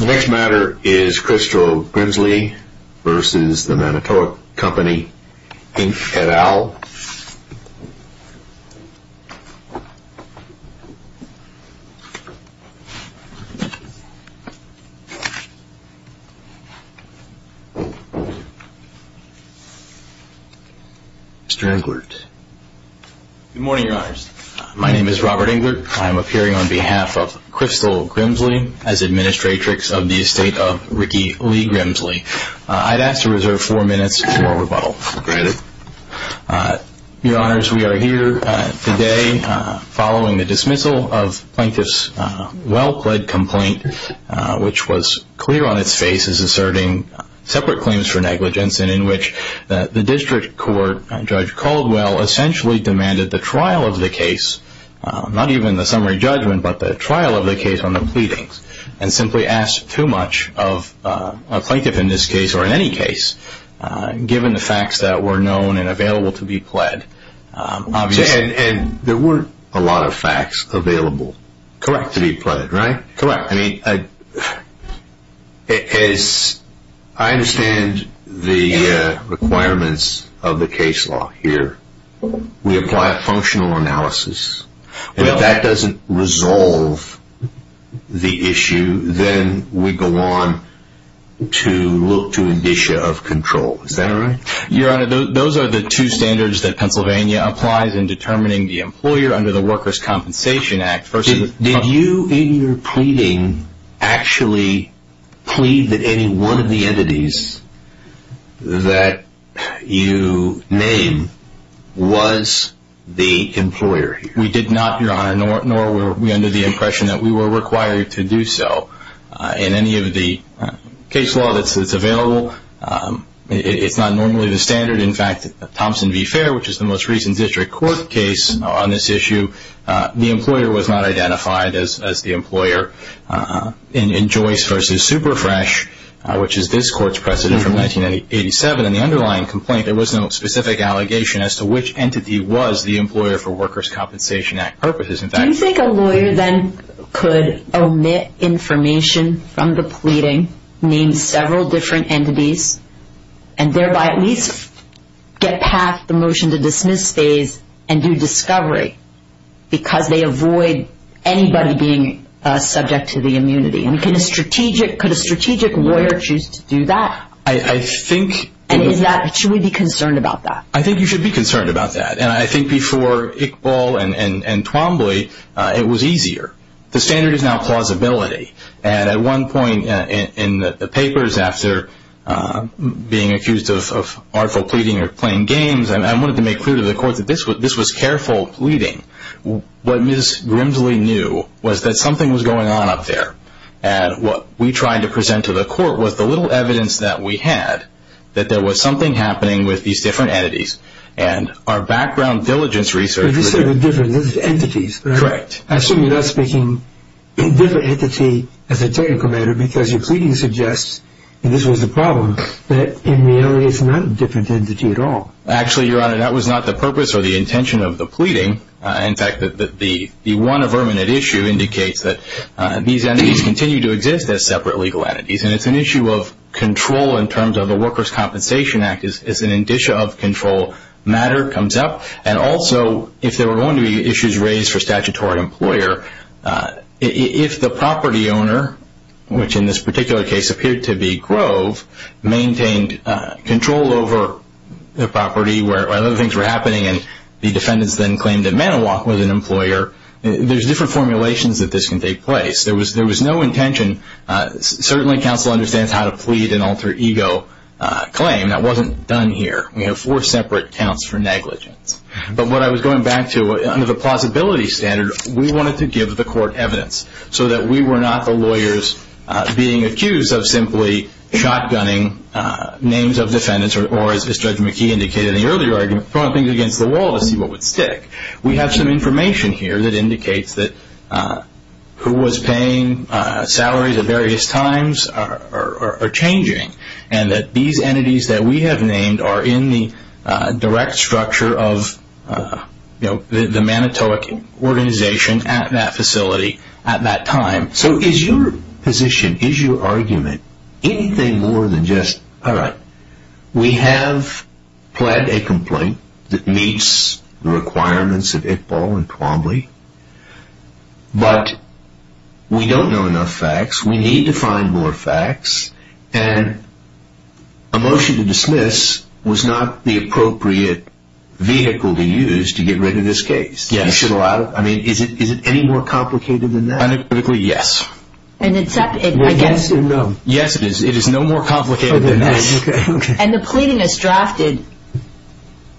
The next matter is Christel Grimsley v. Manitowoc Co Inc et al. Mr. Englert. My name is Robert Englert. I'm appearing on behalf of Christel Grimsley as administratrix of the estate of Ricky Lee Grimsley. I'd ask to reserve four minutes for rebuttal. Granted. Your honors, we are here today following the dismissal of Plaintiff's well-pled complaint, which was clear on its face as asserting separate claims for negligence, and in which the district court, Judge Caldwell, essentially demanded the trial of the case, not even the summary judgment, but the trial of the case on the pleadings, and simply asked too much of a plaintiff in this case, or in any case, given the facts that were known and available to be pled. And there weren't a lot of facts available to be pled, right? Correct. I mean, I understand the requirements of the case law here. We apply a functional analysis. If that doesn't resolve the issue, then we go on to look to an issue of control. Is that right? Your honor, those are the two standards that Pennsylvania applies in determining the employer under the Workers' Compensation Act. Did you, in your pleading, actually plead that any one of the entities that you named was the employer here? We did not, your honor, nor were we under the impression that we were required to do so. In any of the case law that's available, it's not normally the standard. In fact, Thompson v. Fair, which is the most recent district court case on this issue, the employer was not identified as the employer. In Joyce v. Superfresh, which is this court's precedent from 1987, in the underlying complaint there was no specific allegation as to which entity was the employer for Workers' Compensation Act purposes. Do you think a lawyer then could omit information from the pleading, name several different entities, and thereby at least get past the motion to dismiss phase and do discovery, because they avoid anybody being subject to the immunity? Could a strategic lawyer choose to do that? Should we be concerned about that? I think you should be concerned about that. I think before Iqbal and Twombly, it was easier. The standard is now plausibility. At one point in the papers, after being accused of artful pleading or playing games, I wanted to make clear to the court that this was careful pleading. What Ms. Grimsley knew was that something was going on up there, and what we tried to present to the court was the little evidence that we had that there was something happening with these different entities, and our background diligence research… You said the different entities. Correct. I assume you're not speaking of a different entity as a technical matter, because your pleading suggests, and this was the problem, that in reality it's not a different entity at all. Actually, Your Honor, that was not the purpose or the intention of the pleading. In fact, the one verminate issue indicates that these entities continue to exist as separate legal entities, and it's an issue of control in terms of the Workers' Compensation Act. As an indicia of control matter comes up, and also if there were going to be issues raised for a statutory employer, if the property owner, which in this particular case appeared to be Grove, maintained control over the property where other things were happening and the defendants then claimed that Manowac was an employer, there's different formulations that this can take place. There was no intention. Certainly, counsel understands how to plead an alter ego claim. That wasn't done here. We have four separate counts for negligence. But what I was going back to, under the plausibility standard, we wanted to give the court evidence so that we were not the lawyers being accused of simply shotgunning names of defendants or, as Judge McKee indicated in the earlier argument, throwing things against the wall to see what would stick. We have some information here that indicates that who was paying salaries at various times are changing and that these entities that we have named are in the direct structure of the Manowac organization at that facility at that time. So is your position, is your argument anything more than just, all right, we have pled a complaint that meets the requirements of Iqbal and Twombly, but we don't know enough facts. We need to find more facts. And a motion to dismiss was not the appropriate vehicle to use to get rid of this case. Yes. I mean, is it any more complicated than that? Unequivocally, yes. Well, yes or no? Yes, it is. It is no more complicated than that. And the pleading is drafted.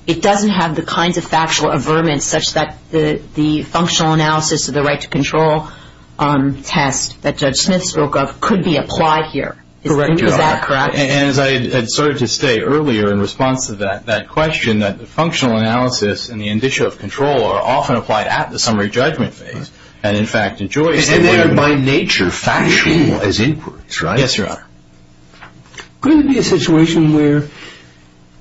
It doesn't have the kinds of factual averments such that the functional analysis of the right to control test that Judge Smith spoke of could be applied here. Is that correct? Correct. And as I had started to say earlier in response to that question, that the functional analysis and the indicia of control are often applied at the summary judgment phase and, in fact, in Joyce they were even factual as inputs, right? Yes, Your Honor. Could it be a situation where,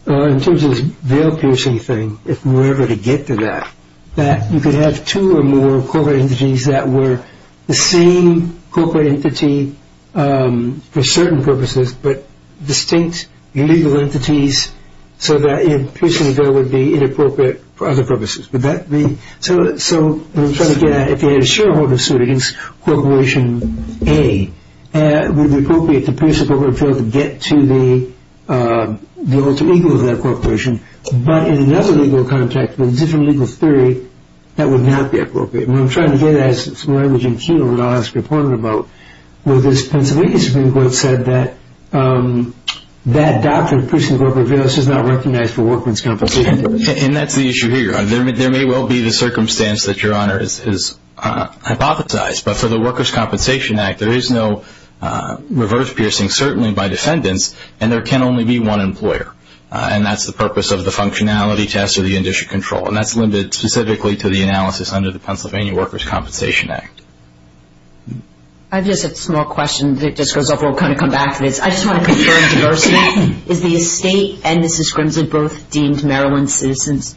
in terms of this veil-piercing thing, if we were ever to get to that, that you could have two or more corporate entities that were the same corporate entity for certain purposes but distinct legal entities so that a piercing veil would be inappropriate for other purposes? Would that be so? So I'm trying to get at if you had a shareholder suit against Corporation A, would it be appropriate to pierce a corporate veil to get to the alter ego of that corporation? But in another legal context, in a different legal theory, that would not be appropriate. And I'm trying to get at some language in Keno that I'll ask a reporter about. Well, this Pennsylvania Supreme Court said that that doctrine of piercing corporate veils is not recognized for worker's compensation. And that's the issue here. There may well be the circumstance that Your Honor has hypothesized, but for the Workers' Compensation Act there is no reverse piercing, certainly by defendants, and there can only be one employer. And that's the purpose of the functionality test or the industry control. And that's limited specifically to the analysis under the Pennsylvania Workers' Compensation Act. I have just a small question that just goes over. We'll kind of come back to this. I just want to confirm diversity. Is the estate and Mrs. Grimsley both deemed Maryland citizens?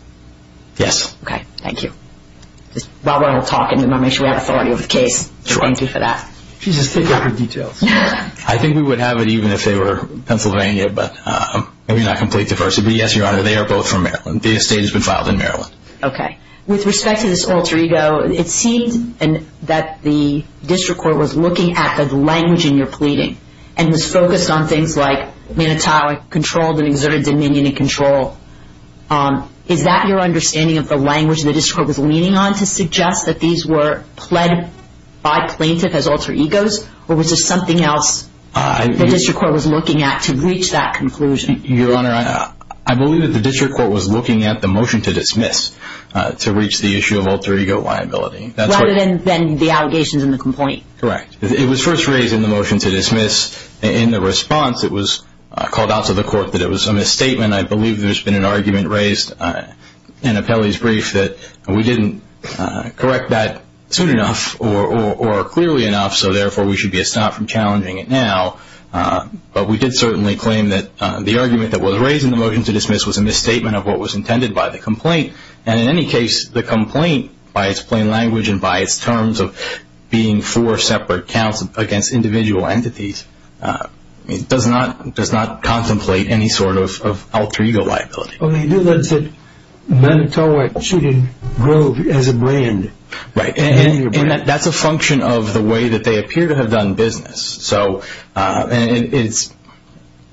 Yes. Okay. Thank you. While we're all talking, I want to make sure we have authority over the case. Thank you for that. She's a stick up for details. I think we would have it even if they were Pennsylvania, but maybe not complete diversity. But, yes, Your Honor, they are both from Maryland. The estate has been filed in Maryland. Okay. With respect to this alter ego, it seemed that the district court was looking at the language in your pleading and was focused on things like manitowic, controlled, and exerted dominion and control. Is that your understanding of the language the district court was leaning on to suggest that these were pled by plaintiff as alter egos? Or was this something else the district court was looking at to reach that conclusion? Your Honor, I believe that the district court was looking at the motion to dismiss to reach the issue of alter ego liability. Rather than the allegations in the complaint. Correct. It was first raised in the motion to dismiss. In the response, it was called out to the court that it was a misstatement. I believe there's been an argument raised in Apelli's brief that we didn't correct that soon enough or clearly enough, so therefore we should be a stop from challenging it now. But we did certainly claim that the argument that was raised in the motion to dismiss was a misstatement of what was intended by the complaint. And in any case, the complaint, by its plain language and by its terms of being four separate counts against individual entities, does not contemplate any sort of alter ego liability. Okay. You said manitowic shooting Grove as a brand. Right. And that's a function of the way that they appear to have done business. So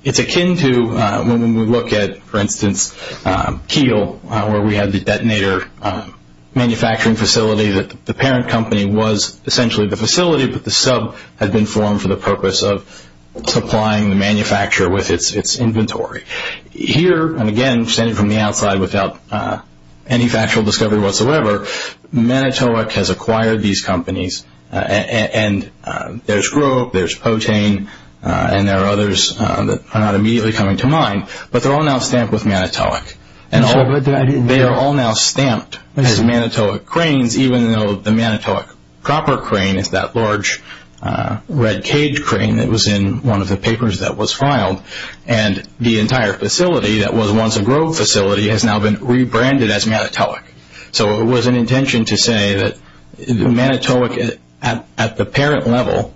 it's akin to when we look at, for instance, Kiel, where we had the detonator manufacturing facility, that the parent company was essentially the facility, but the sub had been formed for the purpose of supplying the manufacturer with its inventory. Here, and again, standing from the outside without any factual discovery whatsoever, manitowic has acquired these companies. And there's Grove, there's Potain, and there are others that are not immediately coming to mind, but they're all now stamped with manitowic. They are all now stamped as manitowic cranes, even though the manitowic copper crane is that large red cage crane that was in one of the papers that was filed. And the entire facility that was once a Grove facility has now been rebranded as manitowic. So it was an intention to say that manitowic at the parent level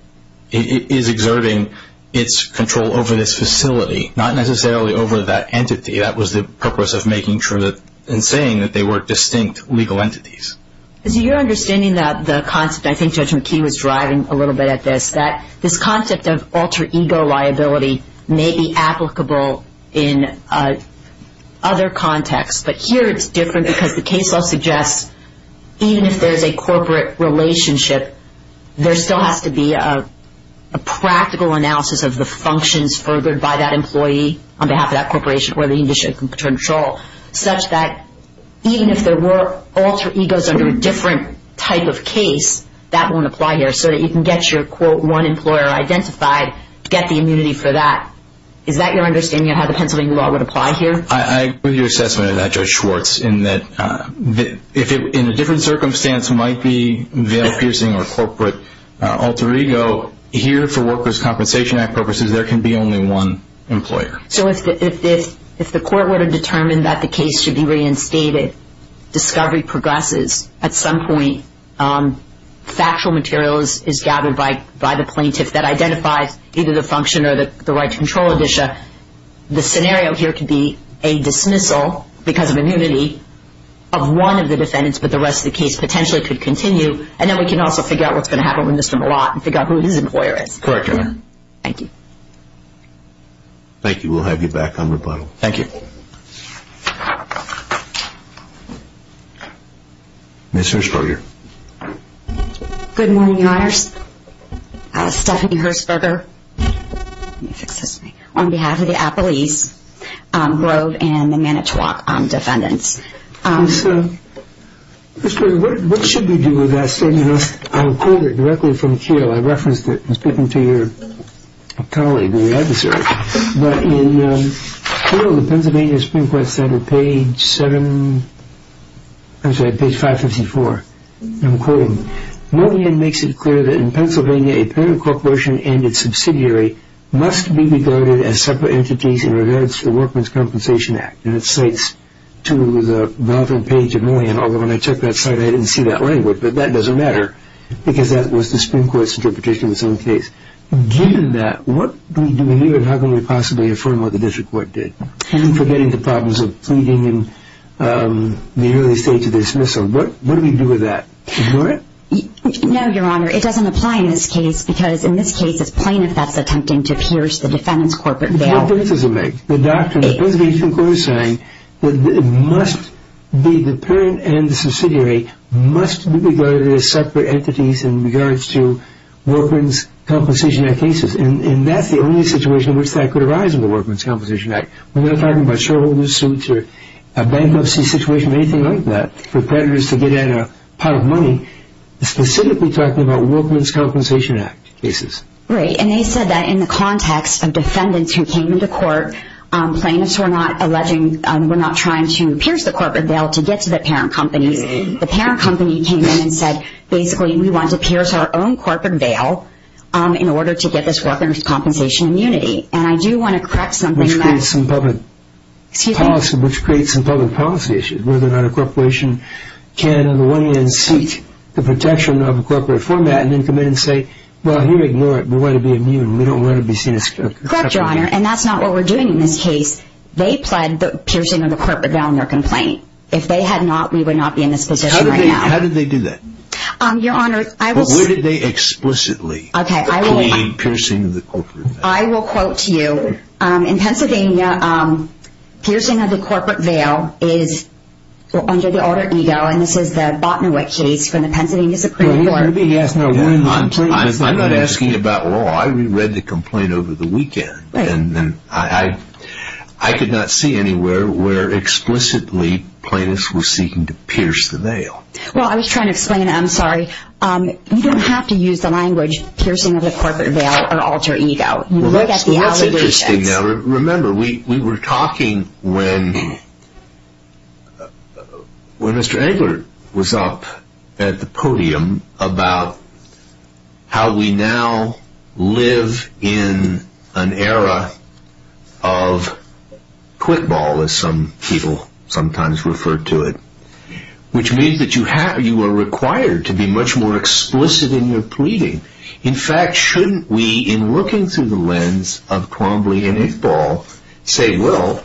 is exerting its control over this facility, not necessarily over that entity. That was the purpose of making sure and saying that they were distinct legal entities. Is it your understanding that the concept, I think Judge McKee was driving a little bit at this, that this concept of alter ego liability may be applicable in other contexts, but here it's different because the case law suggests even if there's a corporate relationship, there still has to be a practical analysis of the functions furthered by that employee on behalf of that corporation or the industry in control, such that even if there were alter egos under a different type of case, that won't apply here so that you can get your, quote, one employer identified, get the immunity for that. Is that your understanding of how the Pennsylvania law would apply here? I agree with your assessment of that, Judge Schwartz, in that if in a different circumstance it might be veil-piercing or corporate alter ego, here for Workers' Compensation Act purposes, there can be only one employer. So if the court were to determine that the case should be reinstated, discovery progresses. At some point, factual material is gathered by the plaintiff that identifies either the function or the right to control edition. The scenario here could be a dismissal because of immunity of one of the defendants, but the rest of the case potentially could continue, and then we can also figure out what's going to happen with Mr. Malott and figure out who his employer is. Correct, Your Honor. Thank you. Thank you. We'll have you back on rebuttal. Thank you. Ms. Hershberger. Good morning, Your Honors. Stephanie Hershberger, on behalf of the Appalese Grove and the Manitowoc defendants. Ms. Hershberger, what should we do with that statement? I'll quote it directly from Keogh. I referenced it. It was written to your colleague, the adversary. But in Keogh, the Pennsylvania Supreme Court said on page 754, I'm quoting, Moyan makes it clear that in Pennsylvania a parent corporation and its subsidiary must be regarded as separate entities in regards to the Worker's Compensation Act. And it cites to the relevant page of Moyan, although when I checked that site I didn't see that language, but that doesn't matter because that was the Supreme Court's interpretation in the same case. Given that, what do we do here and how can we possibly affirm what the district court did? I'm forgetting the problems of pleading in the early stage of dismissal. What do we do with that? No, Your Honor. It doesn't apply in this case because in this case it's plaintiffs that's attempting to pierce the defendant's corporate bail. The doctrine of the Pennsylvania Supreme Court is saying that the parent and the subsidiary must be regarded as separate entities in regards to Worker's Compensation Act cases. And that's the only situation in which that could arise in the Worker's Compensation Act. We're not talking about shareholders suits or a bankruptcy situation or anything like that for predators to get at a pot of money. It's specifically talking about Worker's Compensation Act cases. Right. And they said that in the context of defendants who came into court, plaintiffs were not trying to pierce the corporate bail to get to the parent companies. The parent company came in and said, basically, we want to pierce our own corporate bail in order to get this Worker's Compensation immunity. And I do want to correct something. Which creates some public policy issues. Whether or not a corporation can, on the one hand, seek the protection of a corporate format and then come in and say, well, here, ignore it. We want to be immune. We don't want to be seen as separate entities. Correct, Your Honor. And that's not what we're doing in this case. They pled the piercing of the corporate bail in their complaint. If they had not, we would not be in this position right now. So how did they do that? Your Honor, I will say. But where did they explicitly claim piercing of the corporate bail? I will quote to you. In Pennsylvania, piercing of the corporate bail is under the order EGO. And this is the Botnewick case from the Pennsylvania Supreme Court. I'm not asking about law. I read the complaint over the weekend. And I could not see anywhere where explicitly plaintiffs were seeking to pierce the bail. Well, I was trying to explain. I'm sorry. You don't have to use the language piercing of the corporate bail or alter EGO. You look at the allegations. Remember, we were talking when Mr. Engler was up at the podium about how we now live in an era of quick ball, as some people sometimes refer to it, which means that you are required to be much more explicit in your pleading. In fact, shouldn't we, in looking through the lens of Crombley and Iqbal, say, well,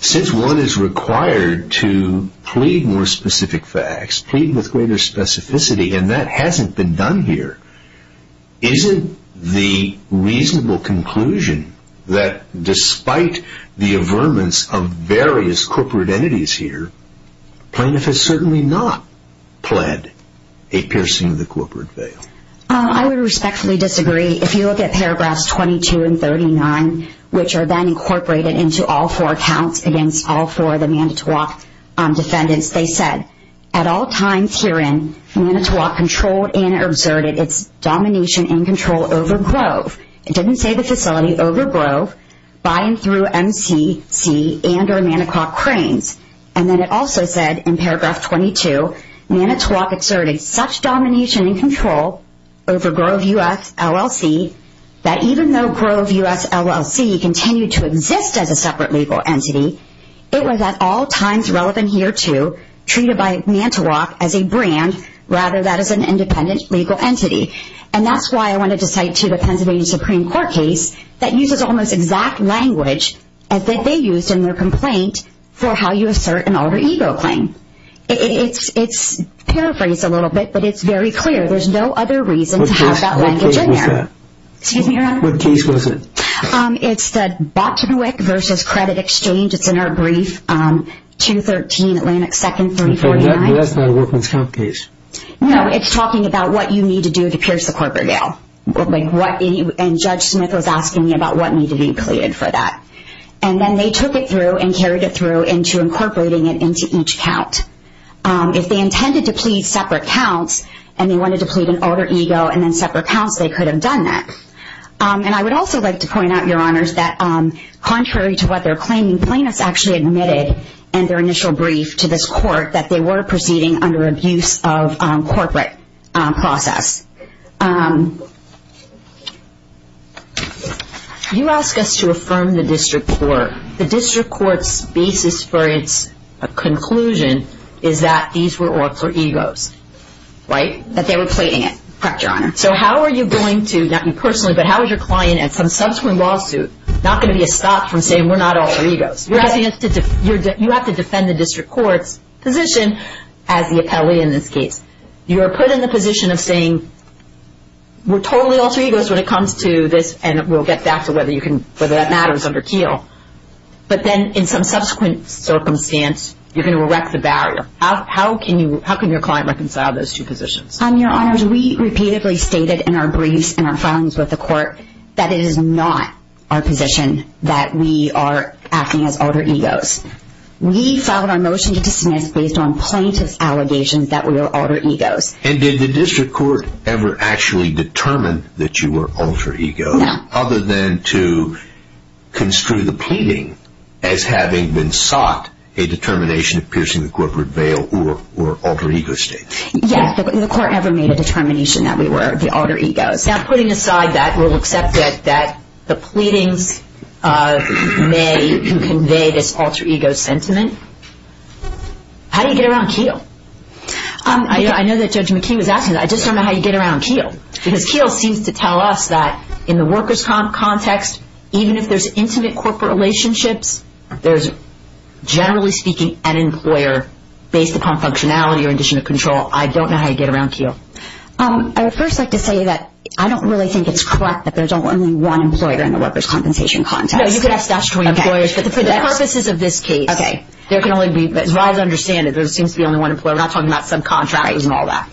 since one is required to plead more specific facts, plead with greater specificity, and that hasn't been done here, isn't the reasonable conclusion that despite the averments of various corporate entities here, plaintiff has certainly not pled a piercing of the corporate bail? I would respectfully disagree. If you look at paragraphs 22 and 39, which are then incorporated into all four accounts against all four of the Manitowoc defendants, they said, at all times herein, Manitowoc controlled and exerted its domination and control over Grove. It didn't say the facility over Grove, by and through MCC, and or Manitowoc cranes. And then it also said, in paragraph 22, Manitowoc exerted such domination and control over Grove U.S. LLC, that even though Grove U.S. LLC continued to exist as a separate legal entity, it was at all times relevant here to, treated by Manitowoc as a brand, rather than as an independent legal entity. And that's why I wanted to cite to the Pennsylvania Supreme Court case, that uses almost exact language that they used in their complaint for how you assert an alter ego claim. It's paraphrased a little bit, but it's very clear. There's no other reason to have that language in there. What case was that? Excuse me, Your Honor? What case was it? It's the Bottenwick v. Credit Exchange. It's in our brief, 213 Atlantic 2nd, 349. That's not a workman's comp case. No, it's talking about what you need to do to pierce the corporate bail. And Judge Smith was asking me about what needed to be pleaded for that. And then they took it through and carried it through into incorporating it into each count. If they intended to plead separate counts, and they wanted to plead an alter ego, and then separate counts, they could have done that. And I would also like to point out, Your Honors, that contrary to what they're claiming, plaintiffs actually admitted in their initial brief to this court that they were proceeding under abuse of corporate process. You ask us to affirm the district court. The district court's basis for its conclusion is that these were alter egos, right? That they were pleading it. Correct, Your Honor. So how are you going to, not you personally, but how is your client at some subsequent lawsuit not going to be stopped from saying we're not alter egos? You have to defend the district court's position as the appellee in this case. You are put in the position of saying we're totally alter egos when it comes to this, and we'll get back to whether that matters under Keel. But then in some subsequent circumstance, you're going to erect the barrier. How can your client reconcile those two positions? Your Honors, we repeatedly stated in our briefs and our filings with the court that it is not our position that we are acting as alter egos. We filed our motion to dismiss based on plaintiff's allegations that we were alter egos. And did the district court ever actually determine that you were alter egos? No. Other than to construe the pleading as having been sought, a determination of piercing the corporate veil or alter ego statement. Yes, the court ever made a determination that we were the alter egos. Now, putting aside that, we'll accept that the pleadings may convey this alter ego sentiment. How do you get around Keel? I know that Judge McKee was asking that. I just don't know how you get around Keel. Because Keel seems to tell us that in the worker's context, even if there's intimate corporate relationships, there's generally speaking an employer based upon functionality or condition of control. I don't know how you get around Keel. I would first like to say that I don't really think it's correct that there's only one employer in the worker's compensation context. No, you could ask that to employers, but for the purposes of this case, there can only be, as far as I understand it, there seems to be only one employer. We're not talking about subcontractors and all that.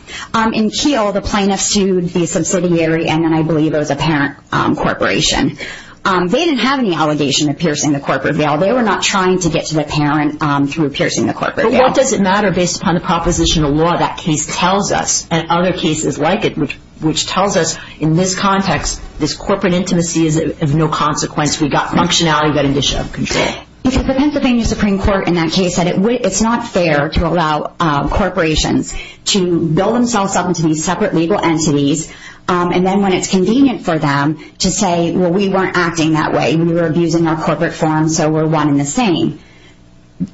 In Keel, the plaintiff sued the subsidiary, and then I believe it was a parent corporation. They didn't have any allegation of piercing the corporate veil. They were not trying to get to the parent through piercing the corporate veil. But what does it matter based upon the propositional law that case tells us and other cases like it, which tells us in this context, this corporate intimacy is of no consequence. We've got functionality. We've got condition of control. The Pennsylvania Supreme Court in that case said it's not fair to allow corporations to build themselves up into these separate legal entities, and then when it's convenient for them to say, well, we weren't acting that way. We were abusing our corporate forms, so we're one and the same.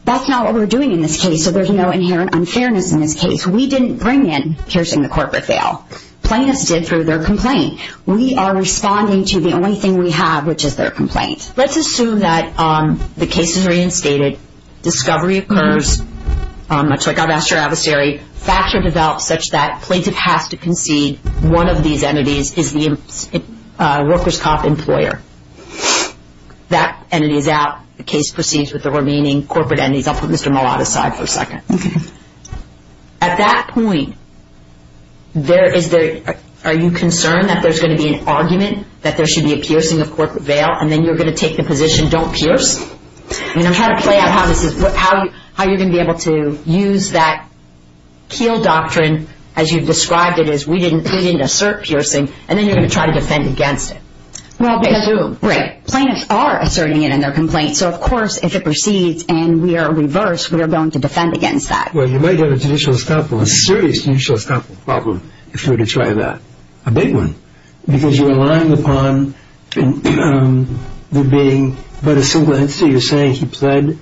That's not what we're doing in this case, so there's no inherent unfairness in this case. We didn't bring in piercing the corporate veil. Plaintiffs did through their complaint. We are responding to the only thing we have, which is their complaint. Let's assume that the case is reinstated. Discovery occurs, much like our master adversary. Facts are developed such that plaintiff has to concede one of these entities is the workers' comp employer. That entity is out. The case proceeds with the remaining corporate entities. I'll put Mr. Mallott aside for a second. At that point, are you concerned that there's going to be an argument that there should be a piercing of corporate veil, and then you're going to take the position, don't pierce? I'm trying to play out how you're going to be able to use that keel doctrine, as you've described it, as we didn't assert piercing, and then you're going to try to defend against it. Plaintiffs are asserting it in their complaint, so of course if it proceeds and we are reversed, we are going to defend against that. Well, you might have a serious judicial problem if you were to try that, a big one, because you're relying upon there being but a single entity. You're saying he pled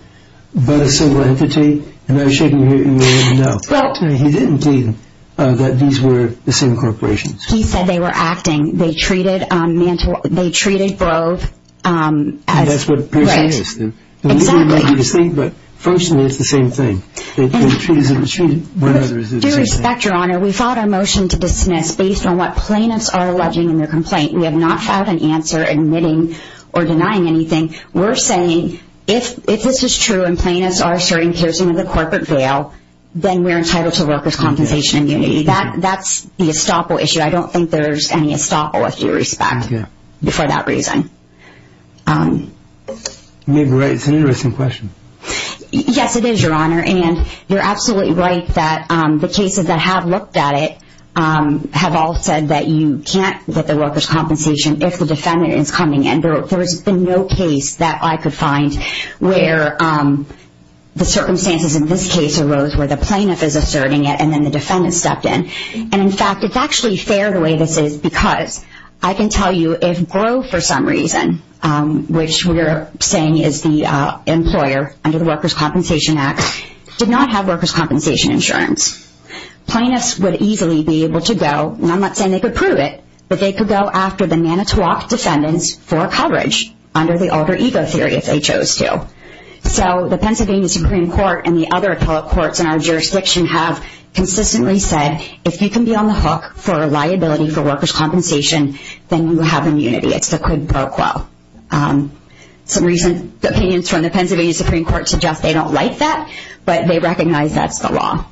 but a single entity, and I'm sure you wouldn't know. Well, he didn't think that these were the same corporations. He said they were acting. They treated Grove as... That's what piercing is. Right. Exactly. But, fortunately, it's the same thing. If it's treated, it's treated. With due respect, Your Honor, we fought our motion to dismiss based on what plaintiffs are alleging in their complaint. We have not found an answer admitting or denying anything. We're saying if this is true and plaintiffs are asserting piercing of the corporate veil, then we're entitled to workers' compensation immunity. That's the estoppel issue. I don't think there's any estoppel, with due respect, for that reason. You may be right. It's an interesting question. Yes, it is, Your Honor, and you're absolutely right that the cases that have looked at it have all said that you can't get the workers' compensation if the defendant is coming in. There has been no case that I could find where the circumstances in this case arose where the plaintiff is asserting it and then the defendant stepped in. In fact, it's actually fair the way this is because I can tell you if Grove, for some reason, which we're saying is the employer under the Workers' Compensation Act, did not have workers' compensation insurance, plaintiffs would easily be able to go, and I'm not saying they could prove it, but they could go after the Nanitowoc defendants for coverage under the alter ego theory if they chose to. So the Pennsylvania Supreme Court and the other appellate courts in our jurisdiction have consistently said if you can be on the hook for liability for workers' compensation, then you have immunity. It's the quid pro quo. Some recent opinions from the Pennsylvania Supreme Court suggest they don't like that, but they recognize that's the law.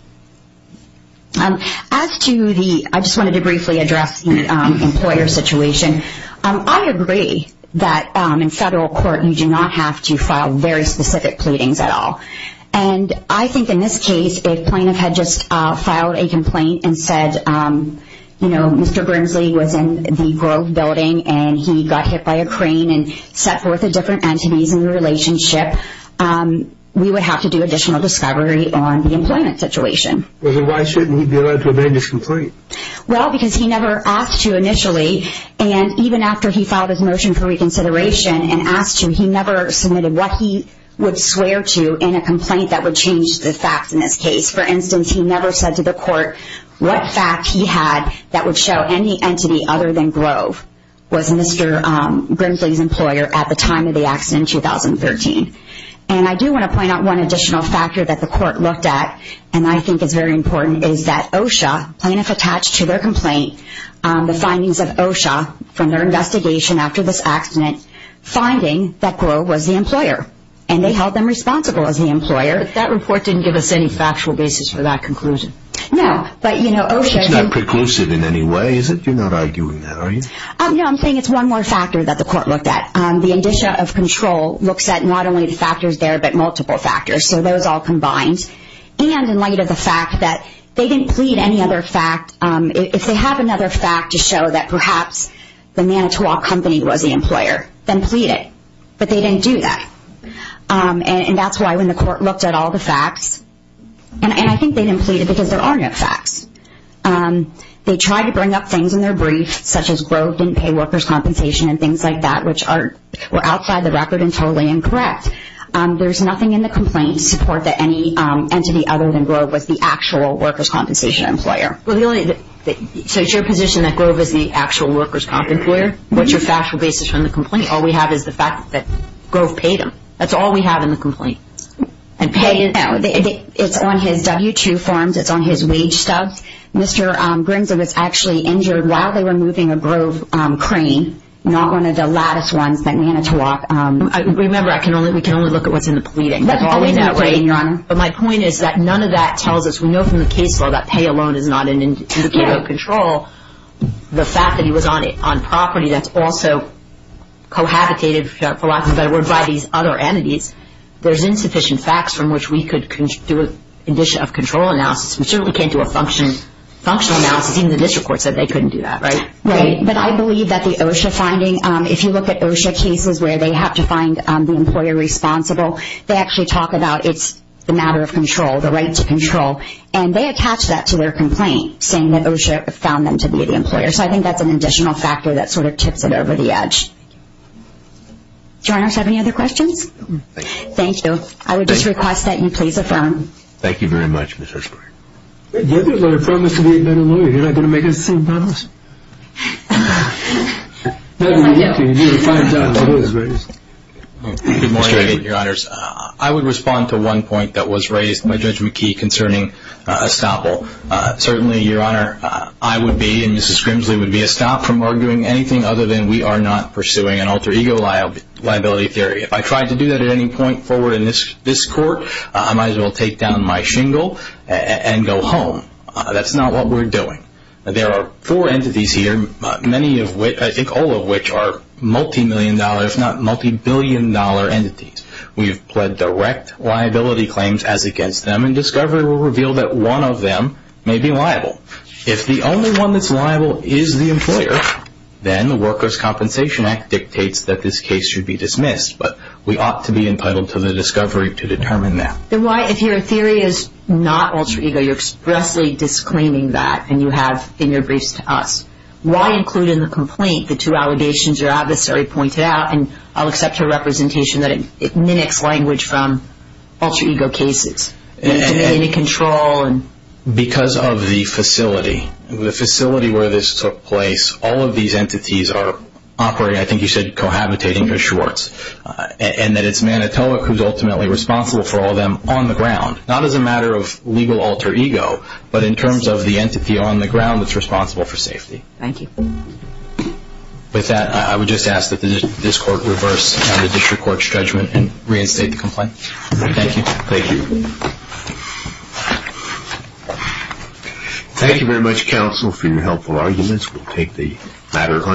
As to the, I just wanted to briefly address the employer situation, I agree that in federal court you do not have to file very specific pleadings at all. And I think in this case, if plaintiff had just filed a complaint and said, you know, Mr. Grimsley was in the Grove building and he got hit by a crane and set forth a different entities in the relationship, we would have to do additional discovery on the employment situation. Well, then why shouldn't he be allowed to amend his complaint? Well, because he never asked to initially, and even after he filed his motion for reconsideration and asked to, he never submitted what he would swear to in a complaint that would change the facts in this case. For instance, he never said to the court what fact he had that would show any entity other than Grove was Mr. Grimsley's employer at the time of the accident in 2013. And I do want to point out one additional factor that the court looked at, and I think is very important, is that OSHA, plaintiff attached to their complaint, the findings of OSHA from their investigation after this accident, finding that Grove was the employer. And they held them responsible as the employer. But that report didn't give us any factual basis for that conclusion. No, but, you know, OSHA... It's not preclusive in any way, is it? You're not arguing that, are you? No, I'm saying it's one more factor that the court looked at. The indicia of control looks at not only the factors there, but multiple factors. So those all combined. And in light of the fact that they didn't plead any other fact, if they have another fact to show that perhaps the Manitowoc company was the employer, then plead it. But they didn't do that. And that's why when the court looked at all the facts, and I think they didn't plead it because there are no facts. They tried to bring up things in their brief, such as Grove didn't pay workers' compensation and things like that, which were outside the record and totally incorrect. There's nothing in the complaint to support that any entity other than Grove was the actual workers' compensation employer. So it's your position that Grove is the actual workers' comp employer? What's your factual basis from the complaint? All we have is the fact that Grove paid him. That's all we have in the complaint. It's on his W-2 forms. It's on his wage stubs. Mr. Brinson was actually injured while they were moving a Grove crane, not one of the lattice ones that Manitowoc... Remember, we can only look at what's in the pleading. But my point is that none of that tells us, we know from the case law, that pay alone is not an indicator of control. The fact that he was on property that's also cohabitated, for lack of a better word, by these other entities, there's insufficient facts from which we could do a condition of control analysis. We certainly can't do a functional analysis. Even the district court said they couldn't do that, right? Right, but I believe that the OSHA finding, if you look at OSHA cases where they have to find the employer responsible, they actually talk about it's a matter of control, the right to control. And they attach that to their complaint, saying that OSHA found them to be the employer. So I think that's an additional factor that sort of tips it over the edge. Do you want to ask any other questions? Thank you. I would just request that you please affirm. Thank you very much, Ms. Hershberg. You have to affirm this to be a better lawyer. You're not going to make the same promise. Good morning, your honors. I would respond to one point that was raised by Judge McKee concerning estoppel. Certainly, your honor, I would be and Mrs. Grimsley would be estopped from arguing anything other than we are not pursuing an alter ego liability theory. If I tried to do that at any point forward in this court, I might as well take down my shingle and go home. That's not what we're doing. There are four entities here, many of which, I think all of which, are multimillion dollar, if not multibillion dollar entities. We've pled direct liability claims as against them, and discovery will reveal that one of them may be liable. If the only one that's liable is the employer, then the Workers' Compensation Act dictates that this case should be dismissed, but we ought to be entitled to the discovery to determine that. Then why, if your theory is not alter ego, you're expressly disclaiming that and you have in your briefs to us, why include in the complaint the two allegations your adversary pointed out, and I'll accept your representation that it mimics language from alter ego cases. You need to be in control. Because of the facility, the facility where this took place, all of these entities are operating, I think you said cohabitating, or shorts, and that it's Manitowoc who's ultimately responsible for all of them on the ground, not as a matter of legal alter ego, but in terms of the entity on the ground that's responsible for safety. Thank you. With that, I would just ask that this court reverse the district court's judgment and reinstate the complaint. Thank you. Thank you. Thank you very much, counsel, for your helpful arguments. We'll take the matter under review.